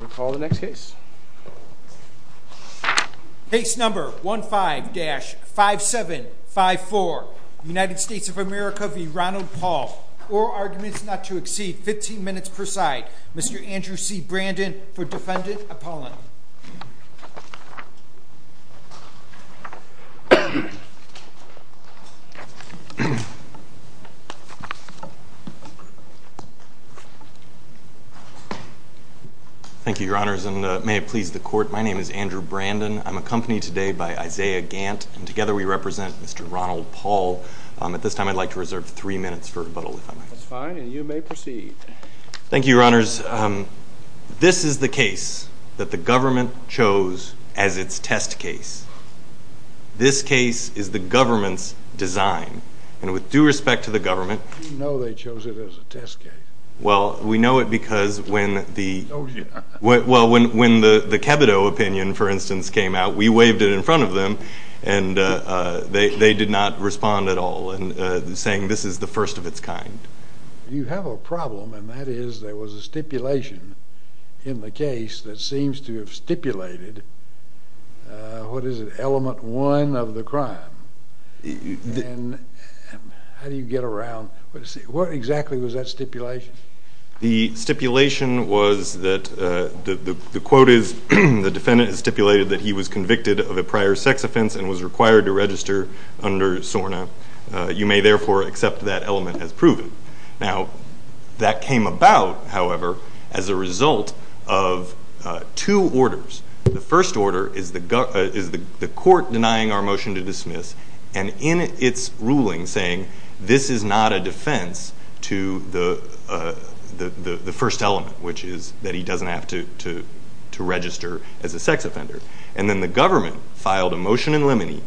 We'll call the next case. Case number 15-5754, United States of America v. Ronald Paul. All arguments not to exceed 15 minutes per side. Mr. Andrew C. Brandon for defendant appellant. Thank you, your honors, and may it please the court. My name is Andrew Brandon. I'm accompanied today by Isaiah Gant, and together we represent Mr. Ronald Paul. At this time, I'd like to reserve three minutes for rebuttal, if I may. That's fine, and you may proceed. Thank you, your honors. This is the case that the government chose as its test case. This case is the government's design, and with due respect to the government... We know they chose it as a test case. Well, we know it because when the... They chose it. Well, when the Kebido opinion, for instance, came out, we waved it in front of them, and they did not respond at all in saying this is the first of its kind. You have a problem, and that is there was a stipulation in the case that seems to have stipulated what is it, element one of the crime. And how do you get around... What exactly was that stipulation? The stipulation was that the quote is the defendant has stipulated that he was convicted of a prior sex offense and was required to register under SORNA. You may therefore accept that element as proven. Now, that came about, however, as a result of two orders. The first order is the court denying our motion to dismiss, and in its ruling saying this is not a defense to the first element, which is that he doesn't have to register as a sex offender. And then the government filed a motion in limine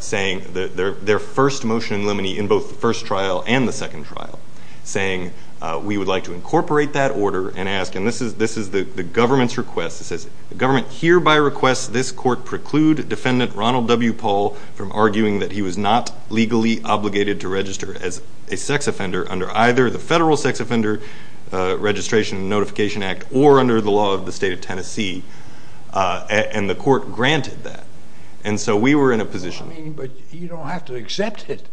saying their first motion in limine in both the first trial and the second trial, saying we would like to incorporate that order and ask, and this is the government's request, it says the government hereby requests this court preclude defendant Ronald W. Paul from arguing that he was not legally obligated to register as a sex offender under either the Federal Sex Offender Registration and Notification Act or under the law of the state of Tennessee, and the court granted that. And so we were in a position... I mean, but you don't have to accept it.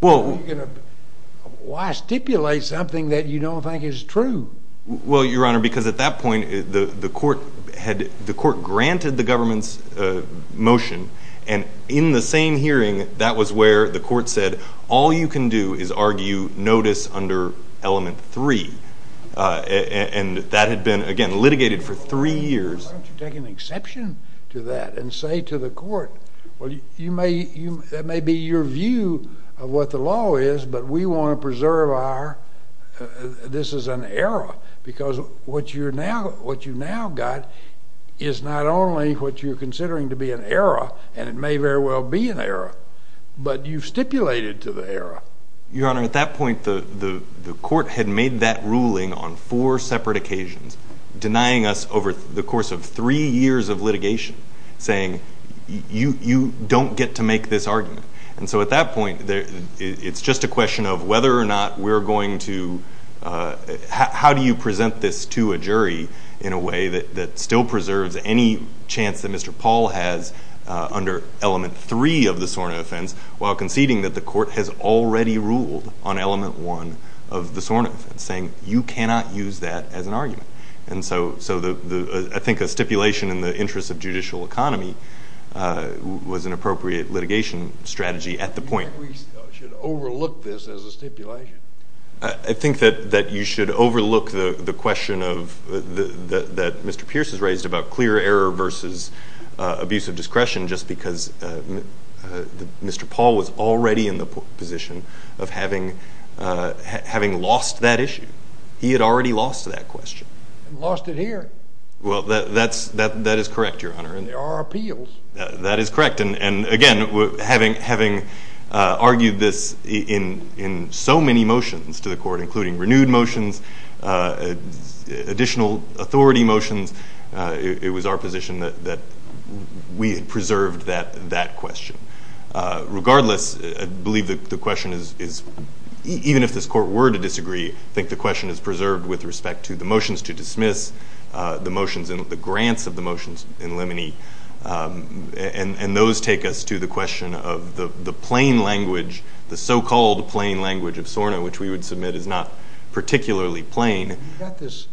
Why stipulate something that you don't think is true? Well, Your Honor, because at that point, the court granted the government's motion, and in the same hearing, that was where the court said all you can do is argue notice under element three. And that had been, again, litigated for three years. Why don't you take an exception to that and say to the court, well, that may be your view of what the law is, but we want to preserve our, this is an error, because what you now got is not only what you're considering to be an error, and it may very well be an error, but you've stipulated to the error. Your Honor, at that point, the court had made that ruling on four separate occasions, denying us over the course of three years of litigation, saying you don't get to make this argument. And so at that point, it's just a question of whether or not we're going to, how do you present this to a jury in a way that still preserves any chance that Mr. Paul has under element three of the SORNA offense, while conceding that the court has already ruled on element one of the SORNA offense, saying you cannot use that as an argument. And so I think a stipulation in the interest of judicial economy was an appropriate litigation strategy at the point. We should overlook this as a stipulation. I think that you should overlook the question that Mr. Pierce has raised about clear error versus abuse of discretion just because Mr. Paul was already in the position of having lost that issue. He had already lost that question. Lost it here. Well, that is correct, Your Honor. There are appeals. That is correct. And again, having argued this in so many motions to the court, including renewed motions, additional authority motions, it was our position that we had preserved that question. Regardless, I believe the question is, even if this court were to disagree, I think the question is preserved with respect to the motions to dismiss, the motions and the grants of the motions in Lemony, and those take us to the question of the plain language, the so-called plain language of SORNA, which we would submit is not particularly plain. You've got this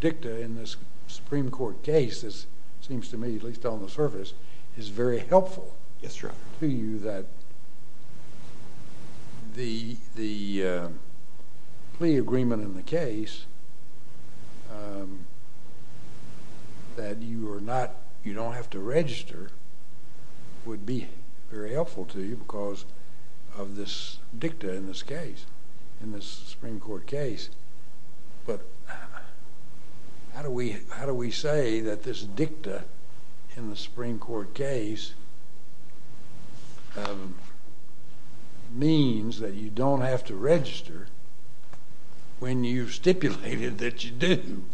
dicta in this Supreme Court case that seems to me, at least on the surface, is very helpful to you that the plea agreement in the case that you don't have to register would be very helpful to you because of this dicta in this case, in this Supreme Court case. But how do we say that this dicta in the Supreme Court case means that you don't have to register when you've stipulated that you do?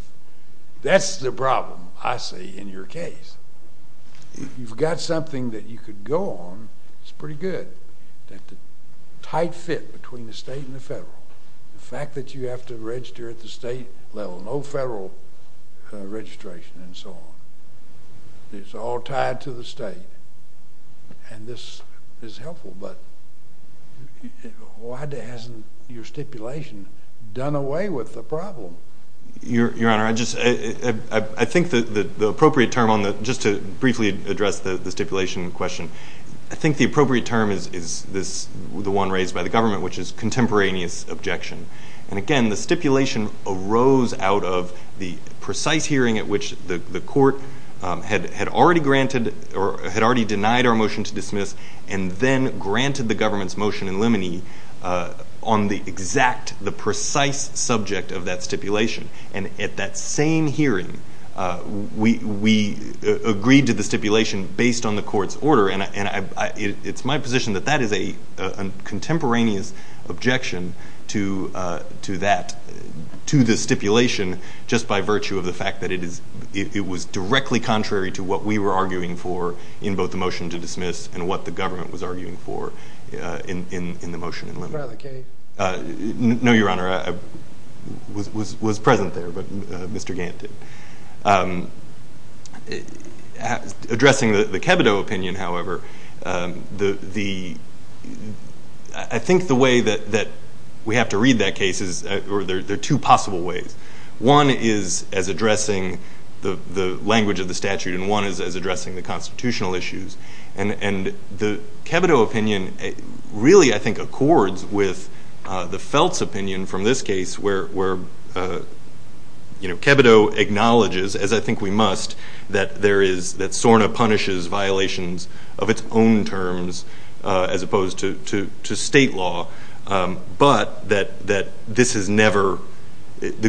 That's the problem, I see, in your case. You've got something that you could go on, it's pretty good, that the tight fit between the state and the federal, the fact that you have to register at the state level, no federal registration and so on, it's all tied to the state, and this is helpful, but why hasn't your stipulation done away with the problem? Your Honor, I think the appropriate term, just to briefly address the stipulation question, I think the appropriate term is the one raised by the government, which is contemporaneous objection. And again, the stipulation arose out of the precise hearing at which the court had already denied our motion to dismiss and then granted the government's motion in limine on the exact, the precise subject of that stipulation. And at that same hearing, we agreed to the stipulation based on the court's order, and it's my position that that is a contemporaneous objection to that, to the stipulation just by virtue of the fact that it was directly contrary to what we were arguing for in both the motion to dismiss and what the government was arguing for in the motion in limine. No, Your Honor, I was present there, but Mr. Gant did. Addressing the Kebido opinion, however, I think the way that we have to read that case, there are two possible ways. One is as addressing the language of the statute, and one is as addressing the constitutional issues. And the Kebido opinion really, I think, accords with the Feltz opinion from this case, where Kebido acknowledges, as I think we must, that SORNA punishes violations of its own terms as opposed to state law, but that the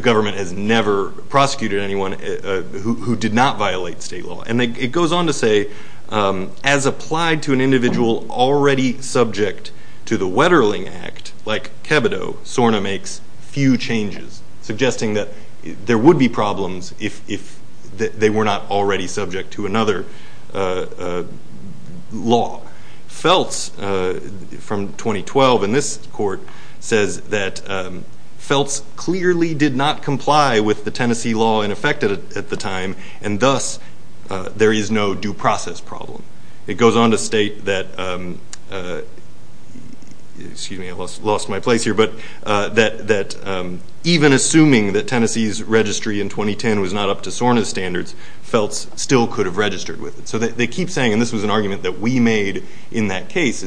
government has never prosecuted anyone who did not violate state law. And it goes on to say, as applied to an individual already subject to the Wetterling Act, like Kebido, SORNA makes few changes, suggesting that there would be problems if they were not already subject to another law. Feltz, from 2012 in this court, says that Feltz clearly did not comply with the Tennessee law in effect at the time, and thus there is no due process problem. It goes on to state that even assuming that Tennessee's registry in 2010 was not up to SORNA's standards, Feltz still could have registered with it. So they keep saying, and this was an argument that we made in that case,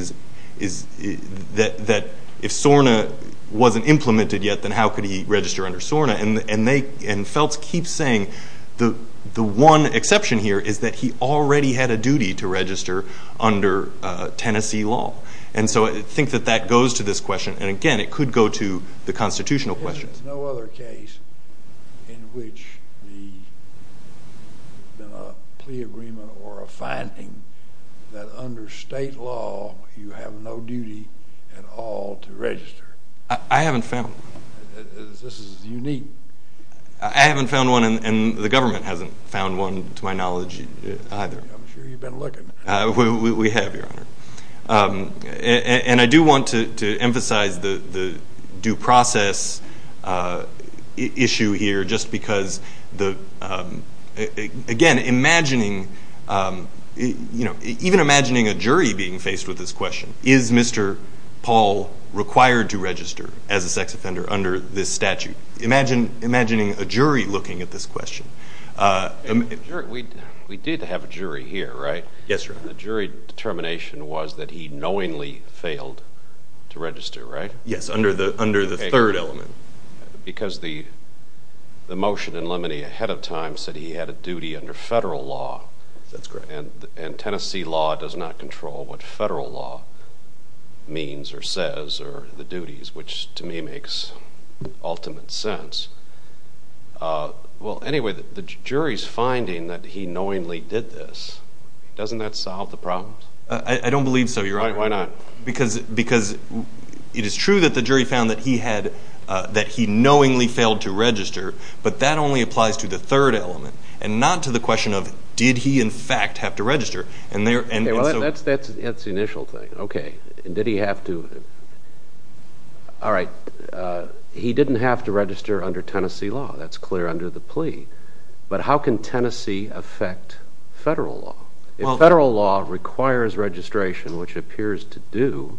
that if SORNA wasn't implemented yet, then how could he register under SORNA? And Feltz keeps saying the one exception here is that he already had a duty to register under Tennessee law. And so I think that that goes to this question, and again, it could go to the constitutional questions. There's no other case in which there's been a plea agreement or a finding that under state law you have no duty at all to register. I haven't found one. This is unique. I haven't found one, and the government hasn't found one to my knowledge either. I'm sure you've been looking. We have, Your Honor. And I do want to emphasize the due process issue here just because, again, even imagining a jury being faced with this question, is Mr. Paul required to register as a sex offender under this statute? Imagining a jury looking at this question. We did have a jury here, right? Yes, Your Honor. And the jury determination was that he knowingly failed to register, right? Yes, under the third element. Because the motion in limine ahead of time said he had a duty under federal law. That's correct. And Tennessee law does not control what federal law means or says or the duties, which to me makes ultimate sense. Well, anyway, the jury's finding that he knowingly did this. Doesn't that solve the problem? I don't believe so, Your Honor. Why not? Because it is true that the jury found that he knowingly failed to register, but that only applies to the third element and not to the question of did he in fact have to register. That's the initial thing. Okay. Did he have to? All right. He didn't have to register under Tennessee law. That's clear under the plea. But how can Tennessee affect federal law? If federal law requires registration, which it appears to do,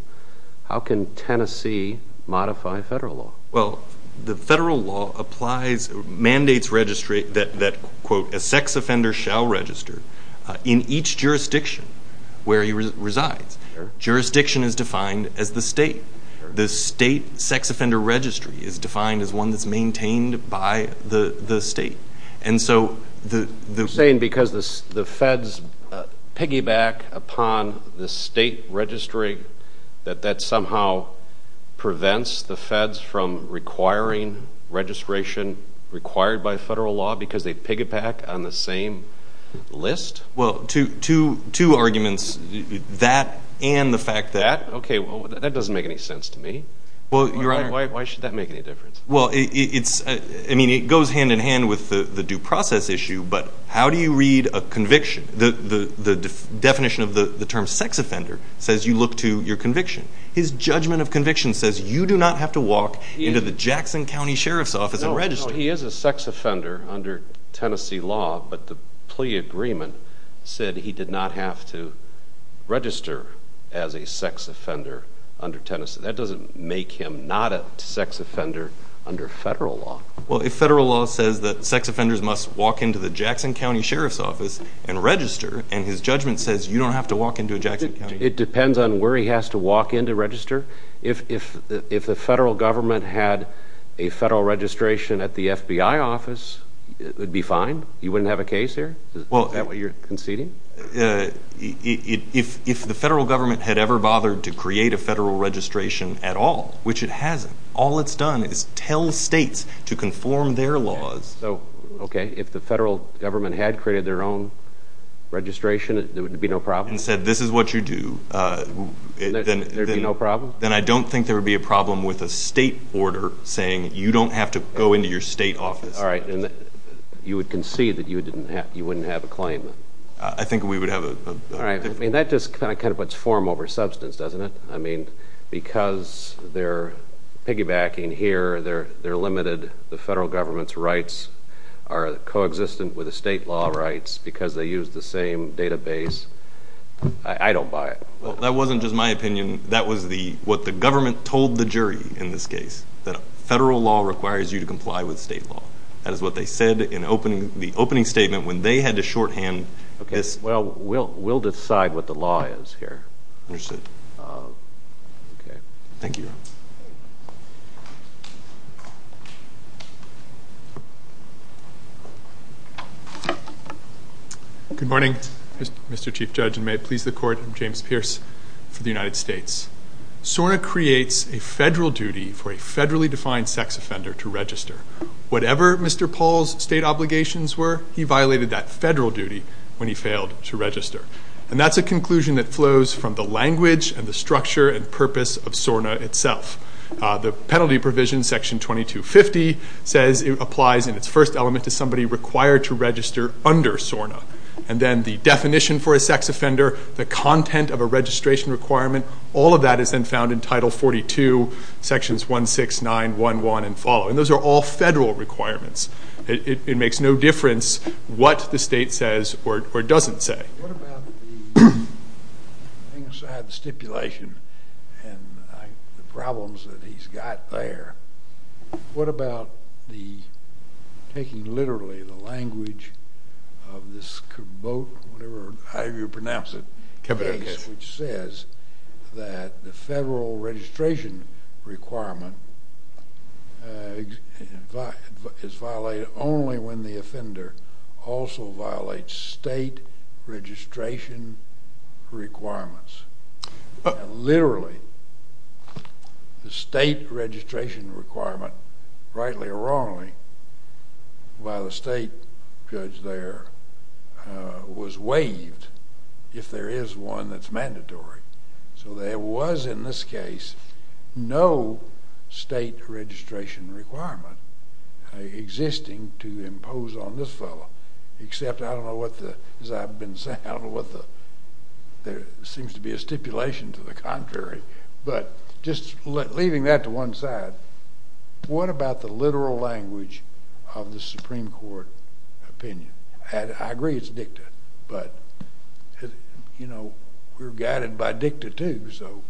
how can Tennessee modify federal law? Well, the federal law applies mandates that, quote, a sex offender shall register in each jurisdiction where he resides. Jurisdiction is defined as the state. The state sex offender registry is defined as one that's maintained by the state. And so the ---- You're saying because the feds piggyback upon the state registry, that that somehow prevents the feds from requiring registration required by federal law because they piggyback on the same list? Well, two arguments, that and the fact that ---- Why should that make any difference? Well, it goes hand in hand with the due process issue, but how do you read a conviction? The definition of the term sex offender says you look to your conviction. His judgment of conviction says you do not have to walk into the Jackson County Sheriff's Office and register. He is a sex offender under Tennessee law, but the plea agreement said he did not have to register as a sex offender under Tennessee. That doesn't make him not a sex offender under federal law. Well, if federal law says that sex offenders must walk into the Jackson County Sheriff's Office and register, and his judgment says you don't have to walk into a Jackson County ---- It depends on where he has to walk in to register. If the federal government had a federal registration at the FBI office, it would be fine. You wouldn't have a case here? Is that what you're conceding? If the federal government had ever bothered to create a federal registration at all, which it hasn't, all it's done is tell states to conform their laws. Okay, if the federal government had created their own registration, there would be no problem? And said, this is what you do. There would be no problem? Then I don't think there would be a problem with a state order saying you don't have to go into your state office. All right, and you would concede that you wouldn't have a claim? I think we would have a ---- All right, I mean, that just kind of puts form over substance, doesn't it? I mean, because they're piggybacking here, they're limited, the federal government's rights are coexistent with the state law rights because they use the same database. I don't buy it. Well, that wasn't just my opinion. That was what the government told the jury in this case, that federal law requires you to comply with state law. That is what they said in the opening statement when they had to shorthand this. Well, we'll decide what the law is here. Understood. Okay. Thank you. Thank you. Good morning, Mr. Chief Judge, and may it please the Court, I'm James Pierce for the United States. SORNA creates a federal duty for a federally defined sex offender to register. Whatever Mr. Paul's state obligations were, he violated that federal duty when he failed to register. And that's a conclusion that flows from the language and the structure and purpose of SORNA itself. The penalty provision, Section 2250, says it applies in its first element to somebody required to register under SORNA. And then the definition for a sex offender, the content of a registration requirement, all of that is then found in Title 42, Sections 169, 11, and follow. And those are all federal requirements. It makes no difference what the state says or doesn't say. What about the stipulation and the problems that he's got there? What about the taking literally the language of this vote, whatever, however you pronounce it, which says that the federal registration requirement is violated only when the offender also violates state registration requirements. And literally the state registration requirement, rightly or wrongly, by the state judge there was waived if there is one that's mandatory. So there was in this case no state registration requirement existing to impose on this fellow, except I don't know what the, as I've been saying, I don't know what the, there seems to be a stipulation to the contrary. But just leaving that to one side, what about the literal language of the Supreme Court opinion? I agree it's dicta, but, you know, we're guided by dicta too, so.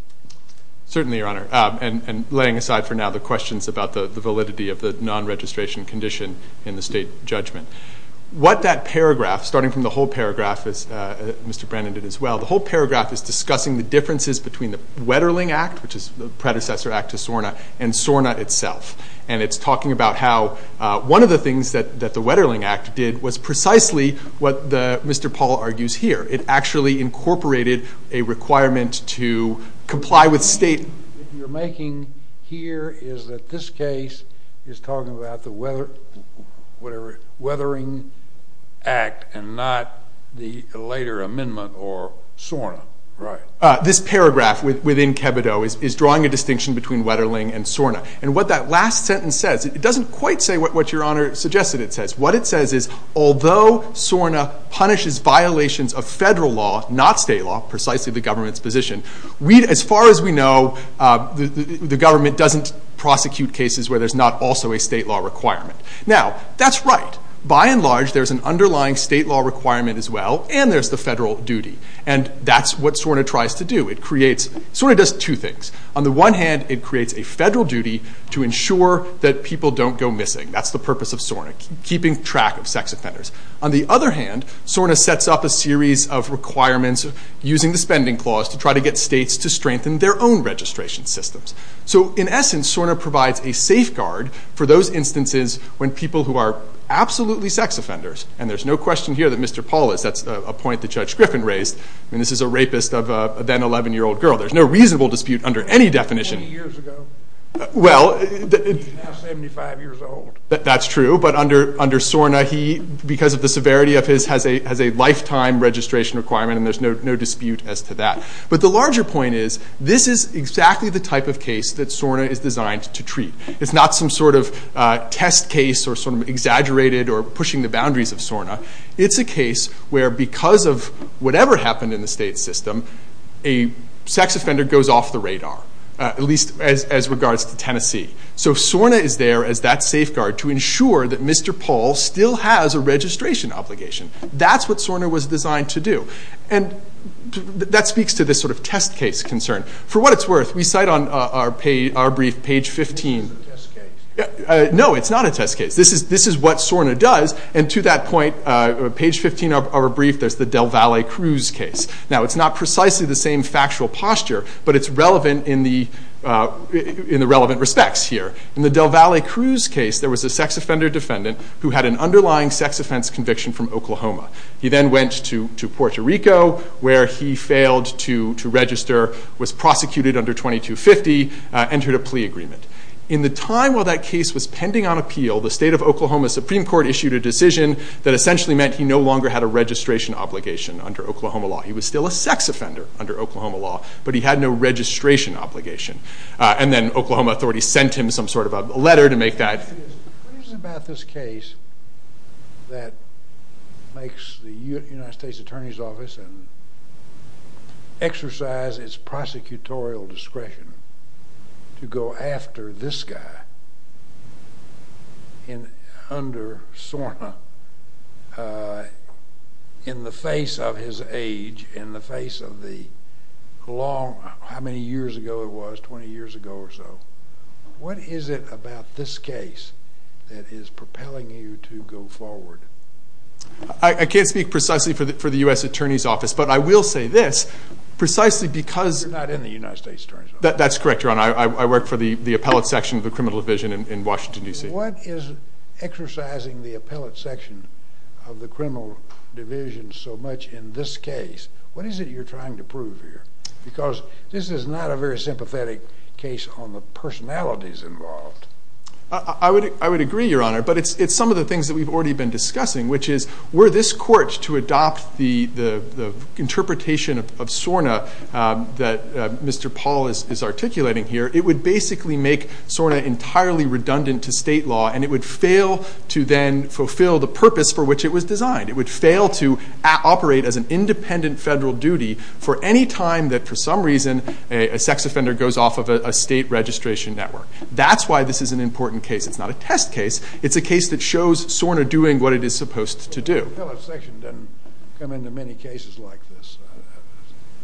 Certainly, Your Honor. And laying aside for now the questions about the validity of the non-registration condition in the state judgment. What that paragraph, starting from the whole paragraph, as Mr. Brennan did as well, the whole paragraph is discussing the differences between the Wetterling Act, which is the predecessor act to SORNA, and SORNA itself. And it's talking about how one of the things that the Wetterling Act did was precisely what Mr. Paul argues here. It actually incorporated a requirement to comply with state. The point that you're making here is that this case is talking about the weather, whatever, Wetterling Act and not the later amendment or SORNA. Right. This paragraph within Kebido is drawing a distinction between Wetterling and SORNA. And what that last sentence says, it doesn't quite say what Your Honor suggested it says. What it says is, although SORNA punishes violations of federal law, not state law, precisely the government's position, as far as we know, the government doesn't prosecute cases where there's not also a state law requirement. Now, that's right. By and large, there's an underlying state law requirement as well, and there's the federal duty. And that's what SORNA tries to do. SORNA does two things. On the one hand, it creates a federal duty to ensure that people don't go missing. That's the purpose of SORNA, keeping track of sex offenders. On the other hand, SORNA sets up a series of requirements using the spending clause to try to get states to strengthen their own registration systems. So, in essence, SORNA provides a safeguard for those instances when people who are absolutely sex offenders, and there's no question here that Mr. Paul is, that's a point that Judge Griffin raised, and this is a rapist of a then 11-year-old girl, there's no reasonable dispute under any definition. How many years ago? Well, He's now 75 years old. That's true, but under SORNA, he, because of the severity of his, has a lifetime registration requirement, and there's no dispute as to that. But the larger point is, this is exactly the type of case that SORNA is designed to treat. It's not some sort of test case or sort of exaggerated or pushing the boundaries of SORNA. It's a case where, because of whatever happened in the state system, a sex offender goes off the radar, at least as regards to Tennessee. So SORNA is there as that safeguard to ensure that Mr. Paul still has a registration obligation. That's what SORNA was designed to do. And that speaks to this sort of test case concern. For what it's worth, we cite on our brief, page 15. No, it's not a test case. This is what SORNA does, and to that point, page 15 of our brief, there's the Del Valle Cruz case. Now, it's not precisely the same factual posture, but it's relevant in the relevant respects here. In the Del Valle Cruz case, there was a sex offender defendant who had an underlying sex offense conviction from Oklahoma. He then went to Puerto Rico, where he failed to register, was prosecuted under 2250, entered a plea agreement. In the time while that case was pending on appeal, the state of Oklahoma Supreme Court issued a decision that essentially meant he no longer had a registration obligation under Oklahoma law. He was still a sex offender under Oklahoma law, but he had no registration obligation. And then Oklahoma authorities sent him some sort of a letter to make that. What is it about this case that makes the United States Attorney's Office exercise its prosecutorial discretion to go after this guy under SORNA in the face of his age, in the face of how many years ago it was, 20 years ago or so? What is it about this case that is propelling you to go forward? I can't speak precisely for the U.S. Attorney's Office, but I will say this. You're not in the United States Attorney's Office. That's correct, Your Honor. I work for the appellate section of the criminal division in Washington, D.C. What is exercising the appellate section of the criminal division so much in this case? What is it you're trying to prove here? Because this is not a very sympathetic case on the personalities involved. I would agree, Your Honor, but it's some of the things that we've already been discussing, which is were this court to adopt the interpretation of SORNA that Mr. Paul is articulating here, it would basically make SORNA entirely redundant to state law, and it would fail to then fulfill the purpose for which it was designed. It would fail to operate as an independent federal duty for any time that, for some reason, a sex offender goes off of a state registration network. That's why this is an important case. It's not a test case. It's a case that shows SORNA doing what it is supposed to do. The appellate section doesn't come into many cases like this.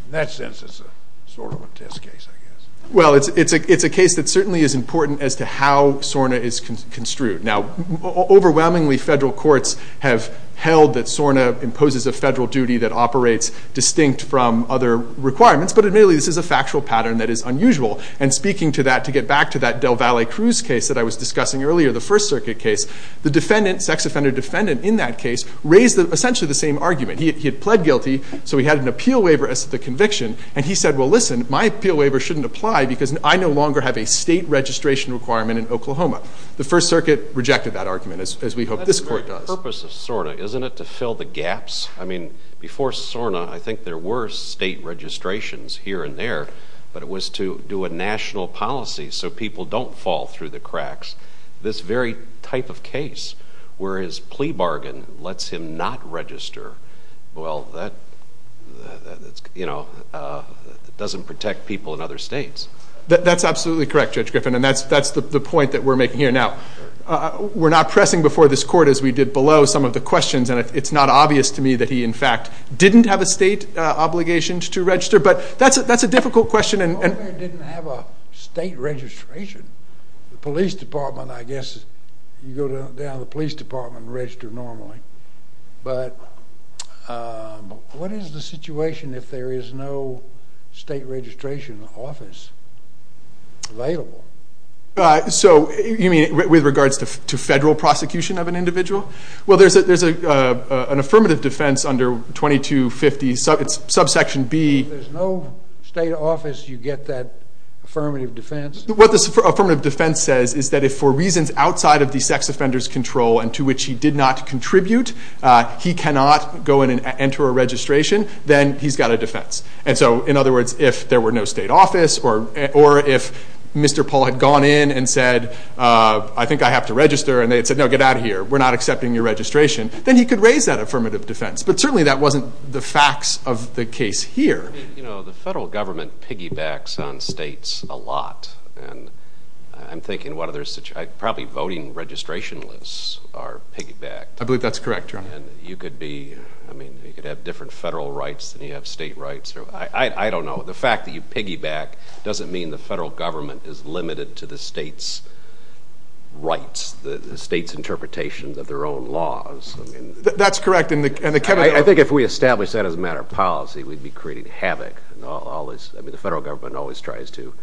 In that sense, it's sort of a test case, I guess. Well, it's a case that certainly is important as to how SORNA is construed. Now, overwhelmingly, federal courts have held that SORNA imposes a federal duty that operates distinct from other requirements, but admittedly, this is a factual pattern that is unusual. And speaking to that, to get back to that Del Valle Cruz case that I was discussing earlier, the First Circuit case, the sex offender defendant in that case raised essentially the same argument. He had pled guilty, so he had an appeal waiver as to the conviction, and he said, well, listen, my appeal waiver shouldn't apply because I no longer have a state registration requirement in Oklahoma. The First Circuit rejected that argument, as we hope this court does. That's the very purpose of SORNA, isn't it, to fill the gaps? I mean, before SORNA, I think there were state registrations here and there, but it was to do a national policy so people don't fall through the cracks. This very type of case, where his plea bargain lets him not register, well, that doesn't protect people in other states. That's absolutely correct, Judge Griffin, and that's the point that we're making here. Now, we're not pressing before this court, as we did below, some of the questions, and it's not obvious to me that he, in fact, didn't have a state obligation to register, but that's a difficult question. He didn't have a state registration. The police department, I guess, you go down to the police department and register normally. But what is the situation if there is no state registration office available? So you mean with regards to federal prosecution of an individual? Well, there's an affirmative defense under 2250, it's subsection B. If there's no state office, you get that affirmative defense? What the affirmative defense says is that if for reasons outside of the sex offender's control and to which he did not contribute, he cannot go in and enter a registration, then he's got a defense. And so, in other words, if there were no state office or if Mr. Paul had gone in and said, I think I have to register, and they had said, no, get out of here, we're not accepting your registration, then he could raise that affirmative defense. But certainly that wasn't the facts of the case here. You know, the federal government piggybacks on states a lot, and I'm thinking probably voting registration lists are piggybacked. I believe that's correct, Your Honor. And you could be, I mean, you could have different federal rights than you have state rights. I don't know. The fact that you piggyback doesn't mean the federal government is limited to the states' rights, the states' interpretations of their own laws. That's correct. I think if we established that as a matter of policy, we'd be creating havoc. I mean, the federal government always tries to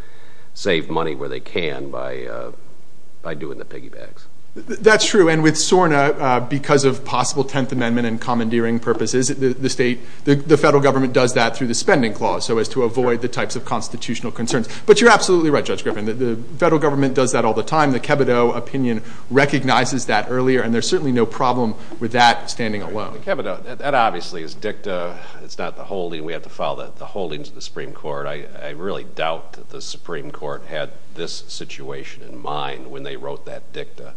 save money where they can by doing the piggybacks. That's true. And with SORNA, because of possible Tenth Amendment and commandeering purposes, the federal government does that through the spending clause so as to avoid the types of constitutional concerns. But you're absolutely right, Judge Griffin. The federal government does that all the time. The Kebido opinion recognizes that earlier, and there's certainly no problem with that standing alone. The Kebido, that obviously is dicta. It's not the holding. We have to follow the holdings of the Supreme Court. I really doubt that the Supreme Court had this situation in mind when they wrote that dicta.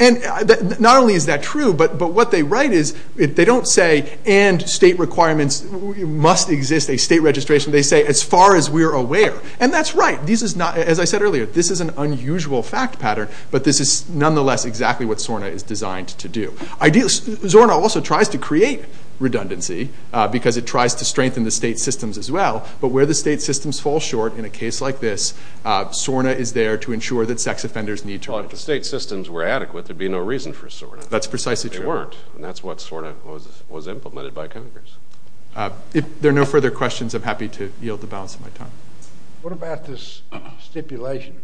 And not only is that true, but what they write is they don't say, and state requirements must exist, a state registration. They say, as far as we're aware. And that's right. This is not, as I said earlier, this is an unusual fact pattern, but this is nonetheless exactly what SORNA is designed to do. SORNA also tries to create redundancy because it tries to strengthen the state systems as well, but where the state systems fall short in a case like this, SORNA is there to ensure that sex offenders need to register. Well, if the state systems were adequate, there'd be no reason for SORNA. That's precisely true. They weren't, and that's what SORNA was implemented by Congress. If there are no further questions, I'm happy to yield the balance of my time. What about this stipulation?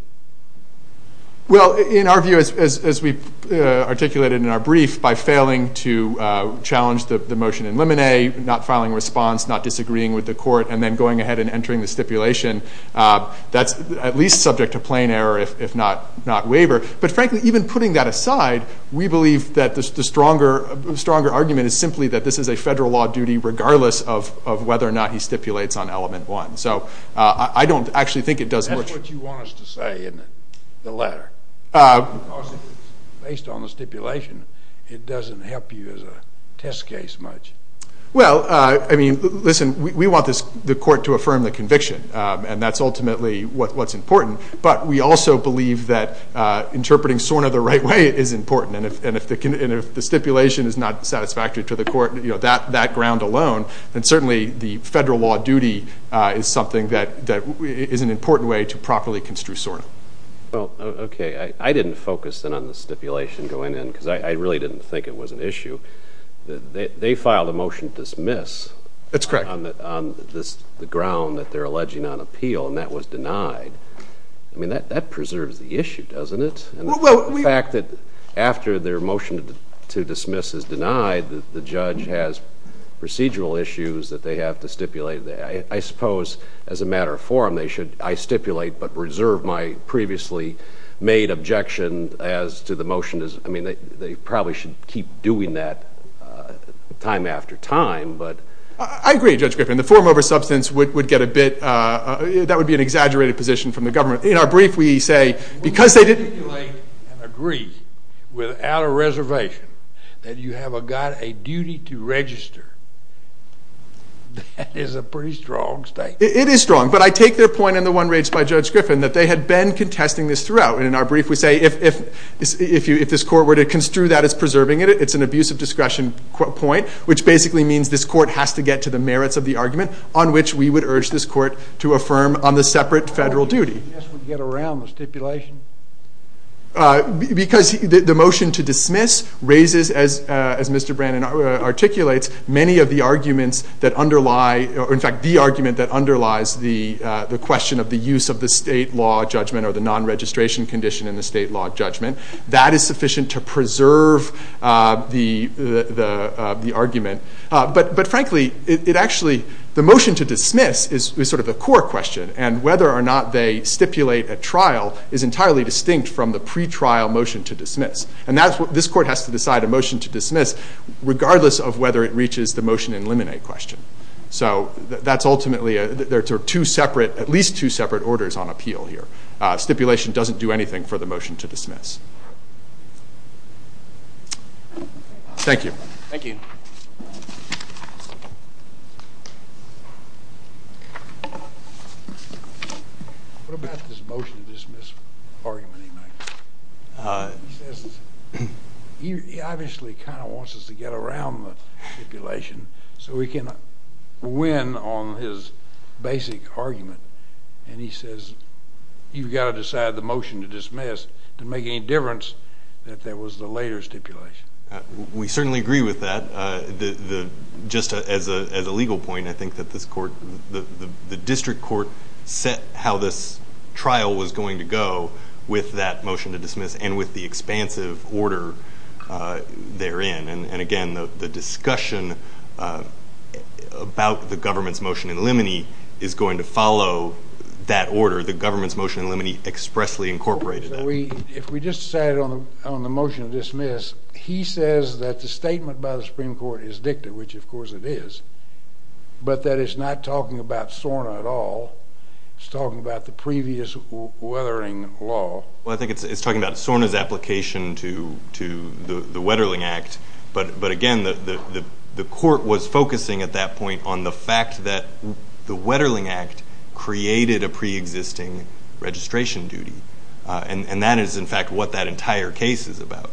Well, in our view, as we articulated in our brief, by failing to challenge the motion in Lemonet, not filing a response, not disagreeing with the court, and then going ahead and entering the stipulation, that's at least subject to plain error, if not waiver. But, frankly, even putting that aside, we believe that the stronger argument is simply that this is a federal law duty, regardless of whether or not he stipulates on Element 1. So I don't actually think it does much. That's what you want us to say in the letter. Because, based on the stipulation, it doesn't help you as a test case much. Well, I mean, listen, we want the court to affirm the conviction, and that's ultimately what's important. But we also believe that interpreting SORNA the right way is important. And if the stipulation is not satisfactory to the court, that ground alone, then certainly the federal law duty is something that is an important way to properly construe SORNA. Well, okay, I didn't focus, then, on the stipulation going in, because I really didn't think it was an issue. They filed a motion to dismiss on the ground that they're alleging on appeal, and that was denied. I mean, that preserves the issue, doesn't it? The fact that after their motion to dismiss is denied, the judge has procedural issues that they have to stipulate. I suppose, as a matter of forum, I stipulate but reserve my previously made objection as to the motion. I mean, they probably should keep doing that time after time. I agree, Judge Griffin. The forum over substance would get a bit – that would be an exaggerated position from the government. In our brief, we say because they didn't – When you stipulate and agree without a reservation that you have a duty to register, that is a pretty strong statement. It is strong, but I take their point and the one raised by Judge Griffin that they had been contesting this throughout. And in our brief, we say if this court were to construe that as preserving it, it's an abuse of discretion point, which basically means this court has to get to the merits of the argument on which we would urge this court to affirm on the separate federal duty. I guess we get around the stipulation. Because the motion to dismiss raises, as Mr. Brannon articulates, many of the arguments that underlie – or in fact, the argument that underlies the question of the use of the state law judgment or the non-registration condition in the state law judgment. That is sufficient to preserve the argument. But frankly, it actually – the motion to dismiss is sort of the core question. And whether or not they stipulate at trial is entirely distinct from the pretrial motion to dismiss. And this court has to decide a motion to dismiss regardless of whether it reaches the motion and eliminate question. So that's ultimately – there are two separate – at least two separate orders on appeal here. Stipulation doesn't do anything for the motion to dismiss. Thank you. Thank you. What about this motion to dismiss argument he makes? He says he obviously kind of wants us to get around the stipulation so we can win on his basic argument. And he says you've got to decide the motion to dismiss to make any difference that there was the later stipulation. We certainly agree with that. Just as a legal point, I think that this court – the district court set how this trial was going to go with that motion to dismiss and with the expansive order therein. And again, the discussion about the government's motion in limine is going to follow that order. The government's motion in limine expressly incorporated that. If we just decided on the motion to dismiss, he says that the statement by the Supreme Court is dicta, which of course it is, but that it's not talking about SORNA at all. It's talking about the previous weathering law. Well, I think it's talking about SORNA's application to the Wetterling Act. But again, the court was focusing at that point on the fact that the Wetterling Act created a preexisting registration duty. And that is, in fact, what that entire case is about.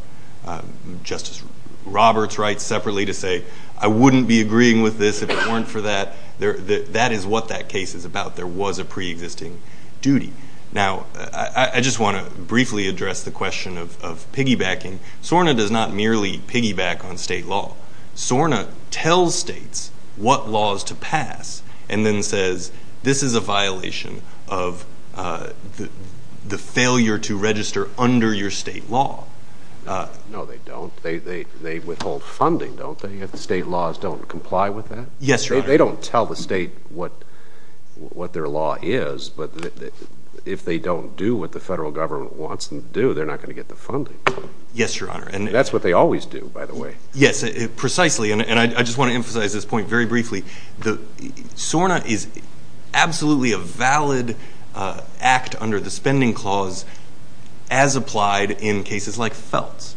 Justice Roberts writes separately to say I wouldn't be agreeing with this if it weren't for that. That is what that case is about. There was a preexisting duty. Now, I just want to briefly address the question of piggybacking. SORNA does not merely piggyback on state law. SORNA tells states what laws to pass and then says this is a violation of the failure to register under your state law. No, they don't. They withhold funding, don't they, if the state laws don't comply with that? Yes, Your Honor. They don't tell the state what their law is. But if they don't do what the federal government wants them to do, they're not going to get the funding. Yes, Your Honor. And that's what they always do, by the way. Yes, precisely. And I just want to emphasize this point very briefly. SORNA is absolutely a valid act under the spending clause as applied in cases like Feltz.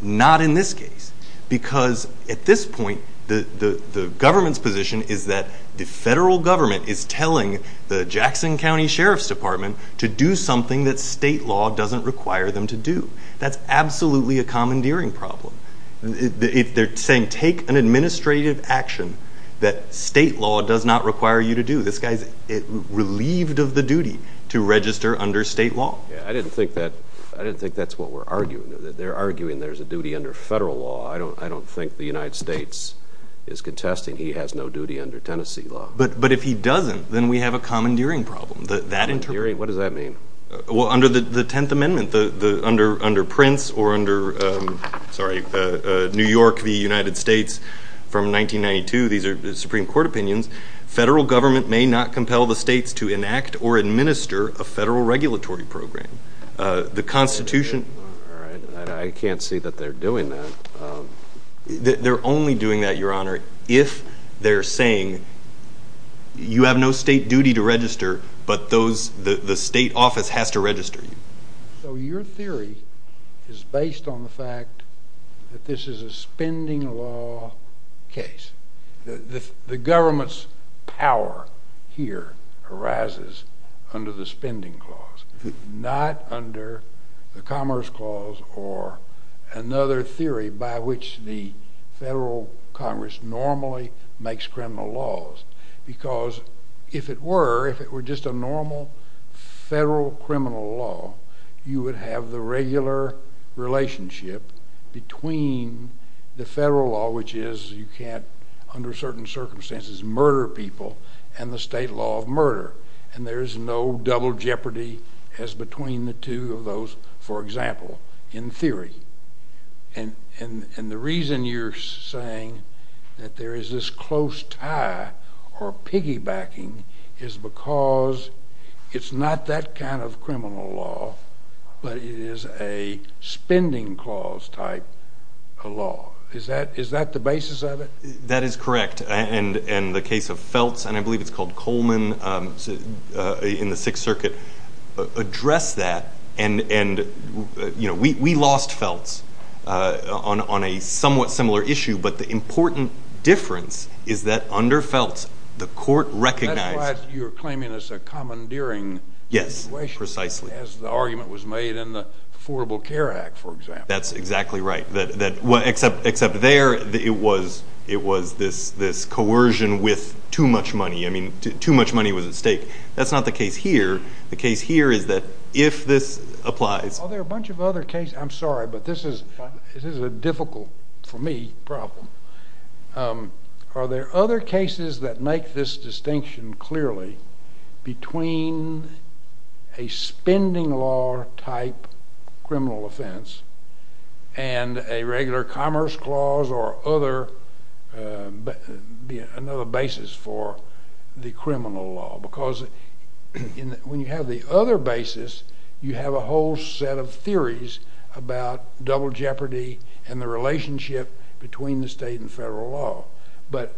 Not in this case. Because at this point, the government's position is that the federal government is telling the Jackson County Sheriff's Department to do something that state law doesn't require them to do. That's absolutely a commandeering problem. They're saying take an administrative action that state law does not require you to do. This guy's relieved of the duty to register under state law. I didn't think that's what we're arguing. They're arguing there's a duty under federal law. I don't think the United States is contesting he has no duty under Tennessee law. But if he doesn't, then we have a commandeering problem. What does that mean? Well, under the Tenth Amendment, under Prince or under New York v. United States from 1992, these are Supreme Court opinions, federal government may not compel the states to enact or administer a federal regulatory program. The Constitution. All right. I can't see that they're doing that. They're only doing that, Your Honor, if they're saying you have no state duty to register, but the state office has to register you. So your theory is based on the fact that this is a spending law case. The government's power here arises under the spending clause, not under the commerce clause or another theory by which the federal Congress normally makes criminal laws. Because if it were, if it were just a normal federal criminal law, you would have the regular relationship between the federal law, which is you can't under certain circumstances murder people, and the state law of murder. And there is no double jeopardy as between the two of those, for example, in theory. And the reason you're saying that there is this close tie or piggybacking is because it's not that kind of criminal law, but it is a spending clause type of law. Is that the basis of it? That is correct. And the case of Feltz, and I believe it's called Coleman in the Sixth Circuit, address that. And, you know, we lost Feltz on a somewhat similar issue, but the important difference is that under Feltz, the court recognized— That's why you're claiming it's a commandeering situation. Yes, precisely. As the argument was made in the Affordable Care Act, for example. That's exactly right. Except there, it was this coercion with too much money. I mean, too much money was at stake. That's not the case here. The case here is that if this applies— Are there a bunch of other cases? I'm sorry, but this is a difficult, for me, problem. Are there other cases that make this distinction clearly between a spending law type criminal offense and a regular commerce clause or another basis for the criminal law? Because when you have the other basis, you have a whole set of theories about double jeopardy and the relationship between the state and federal law. But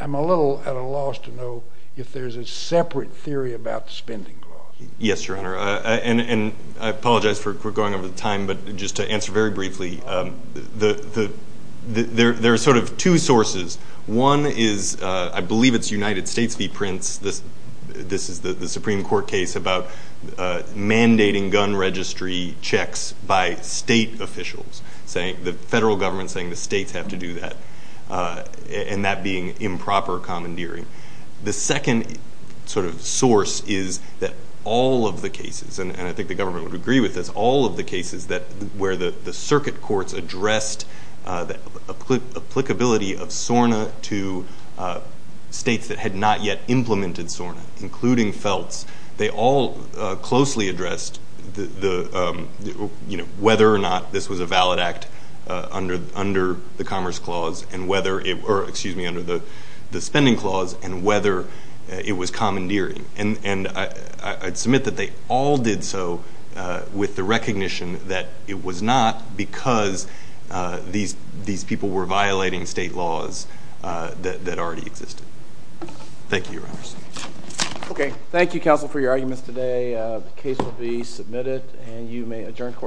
I'm a little at a loss to know if there's a separate theory about the spending clause. Yes, Your Honor. And I apologize for going over the time, but just to answer very briefly, there are sort of two sources. One is, I believe it's United States v. Prince. This is the Supreme Court case about mandating gun registry checks by state officials, the federal government saying the states have to do that, and that being improper commandeering. The second sort of source is that all of the cases, and I think the government would agree with this, where the circuit courts addressed the applicability of SORNA to states that had not yet implemented SORNA, including FELTS, they all closely addressed whether or not this was a valid act under the commerce clause or, excuse me, under the spending clause and whether it was commandeering. And I submit that they all did so with the recognition that it was not because these people were violating state laws that already existed. Thank you, Your Honor. Okay. Thank you, counsel, for your arguments today. The case will be submitted, and you may adjourn court.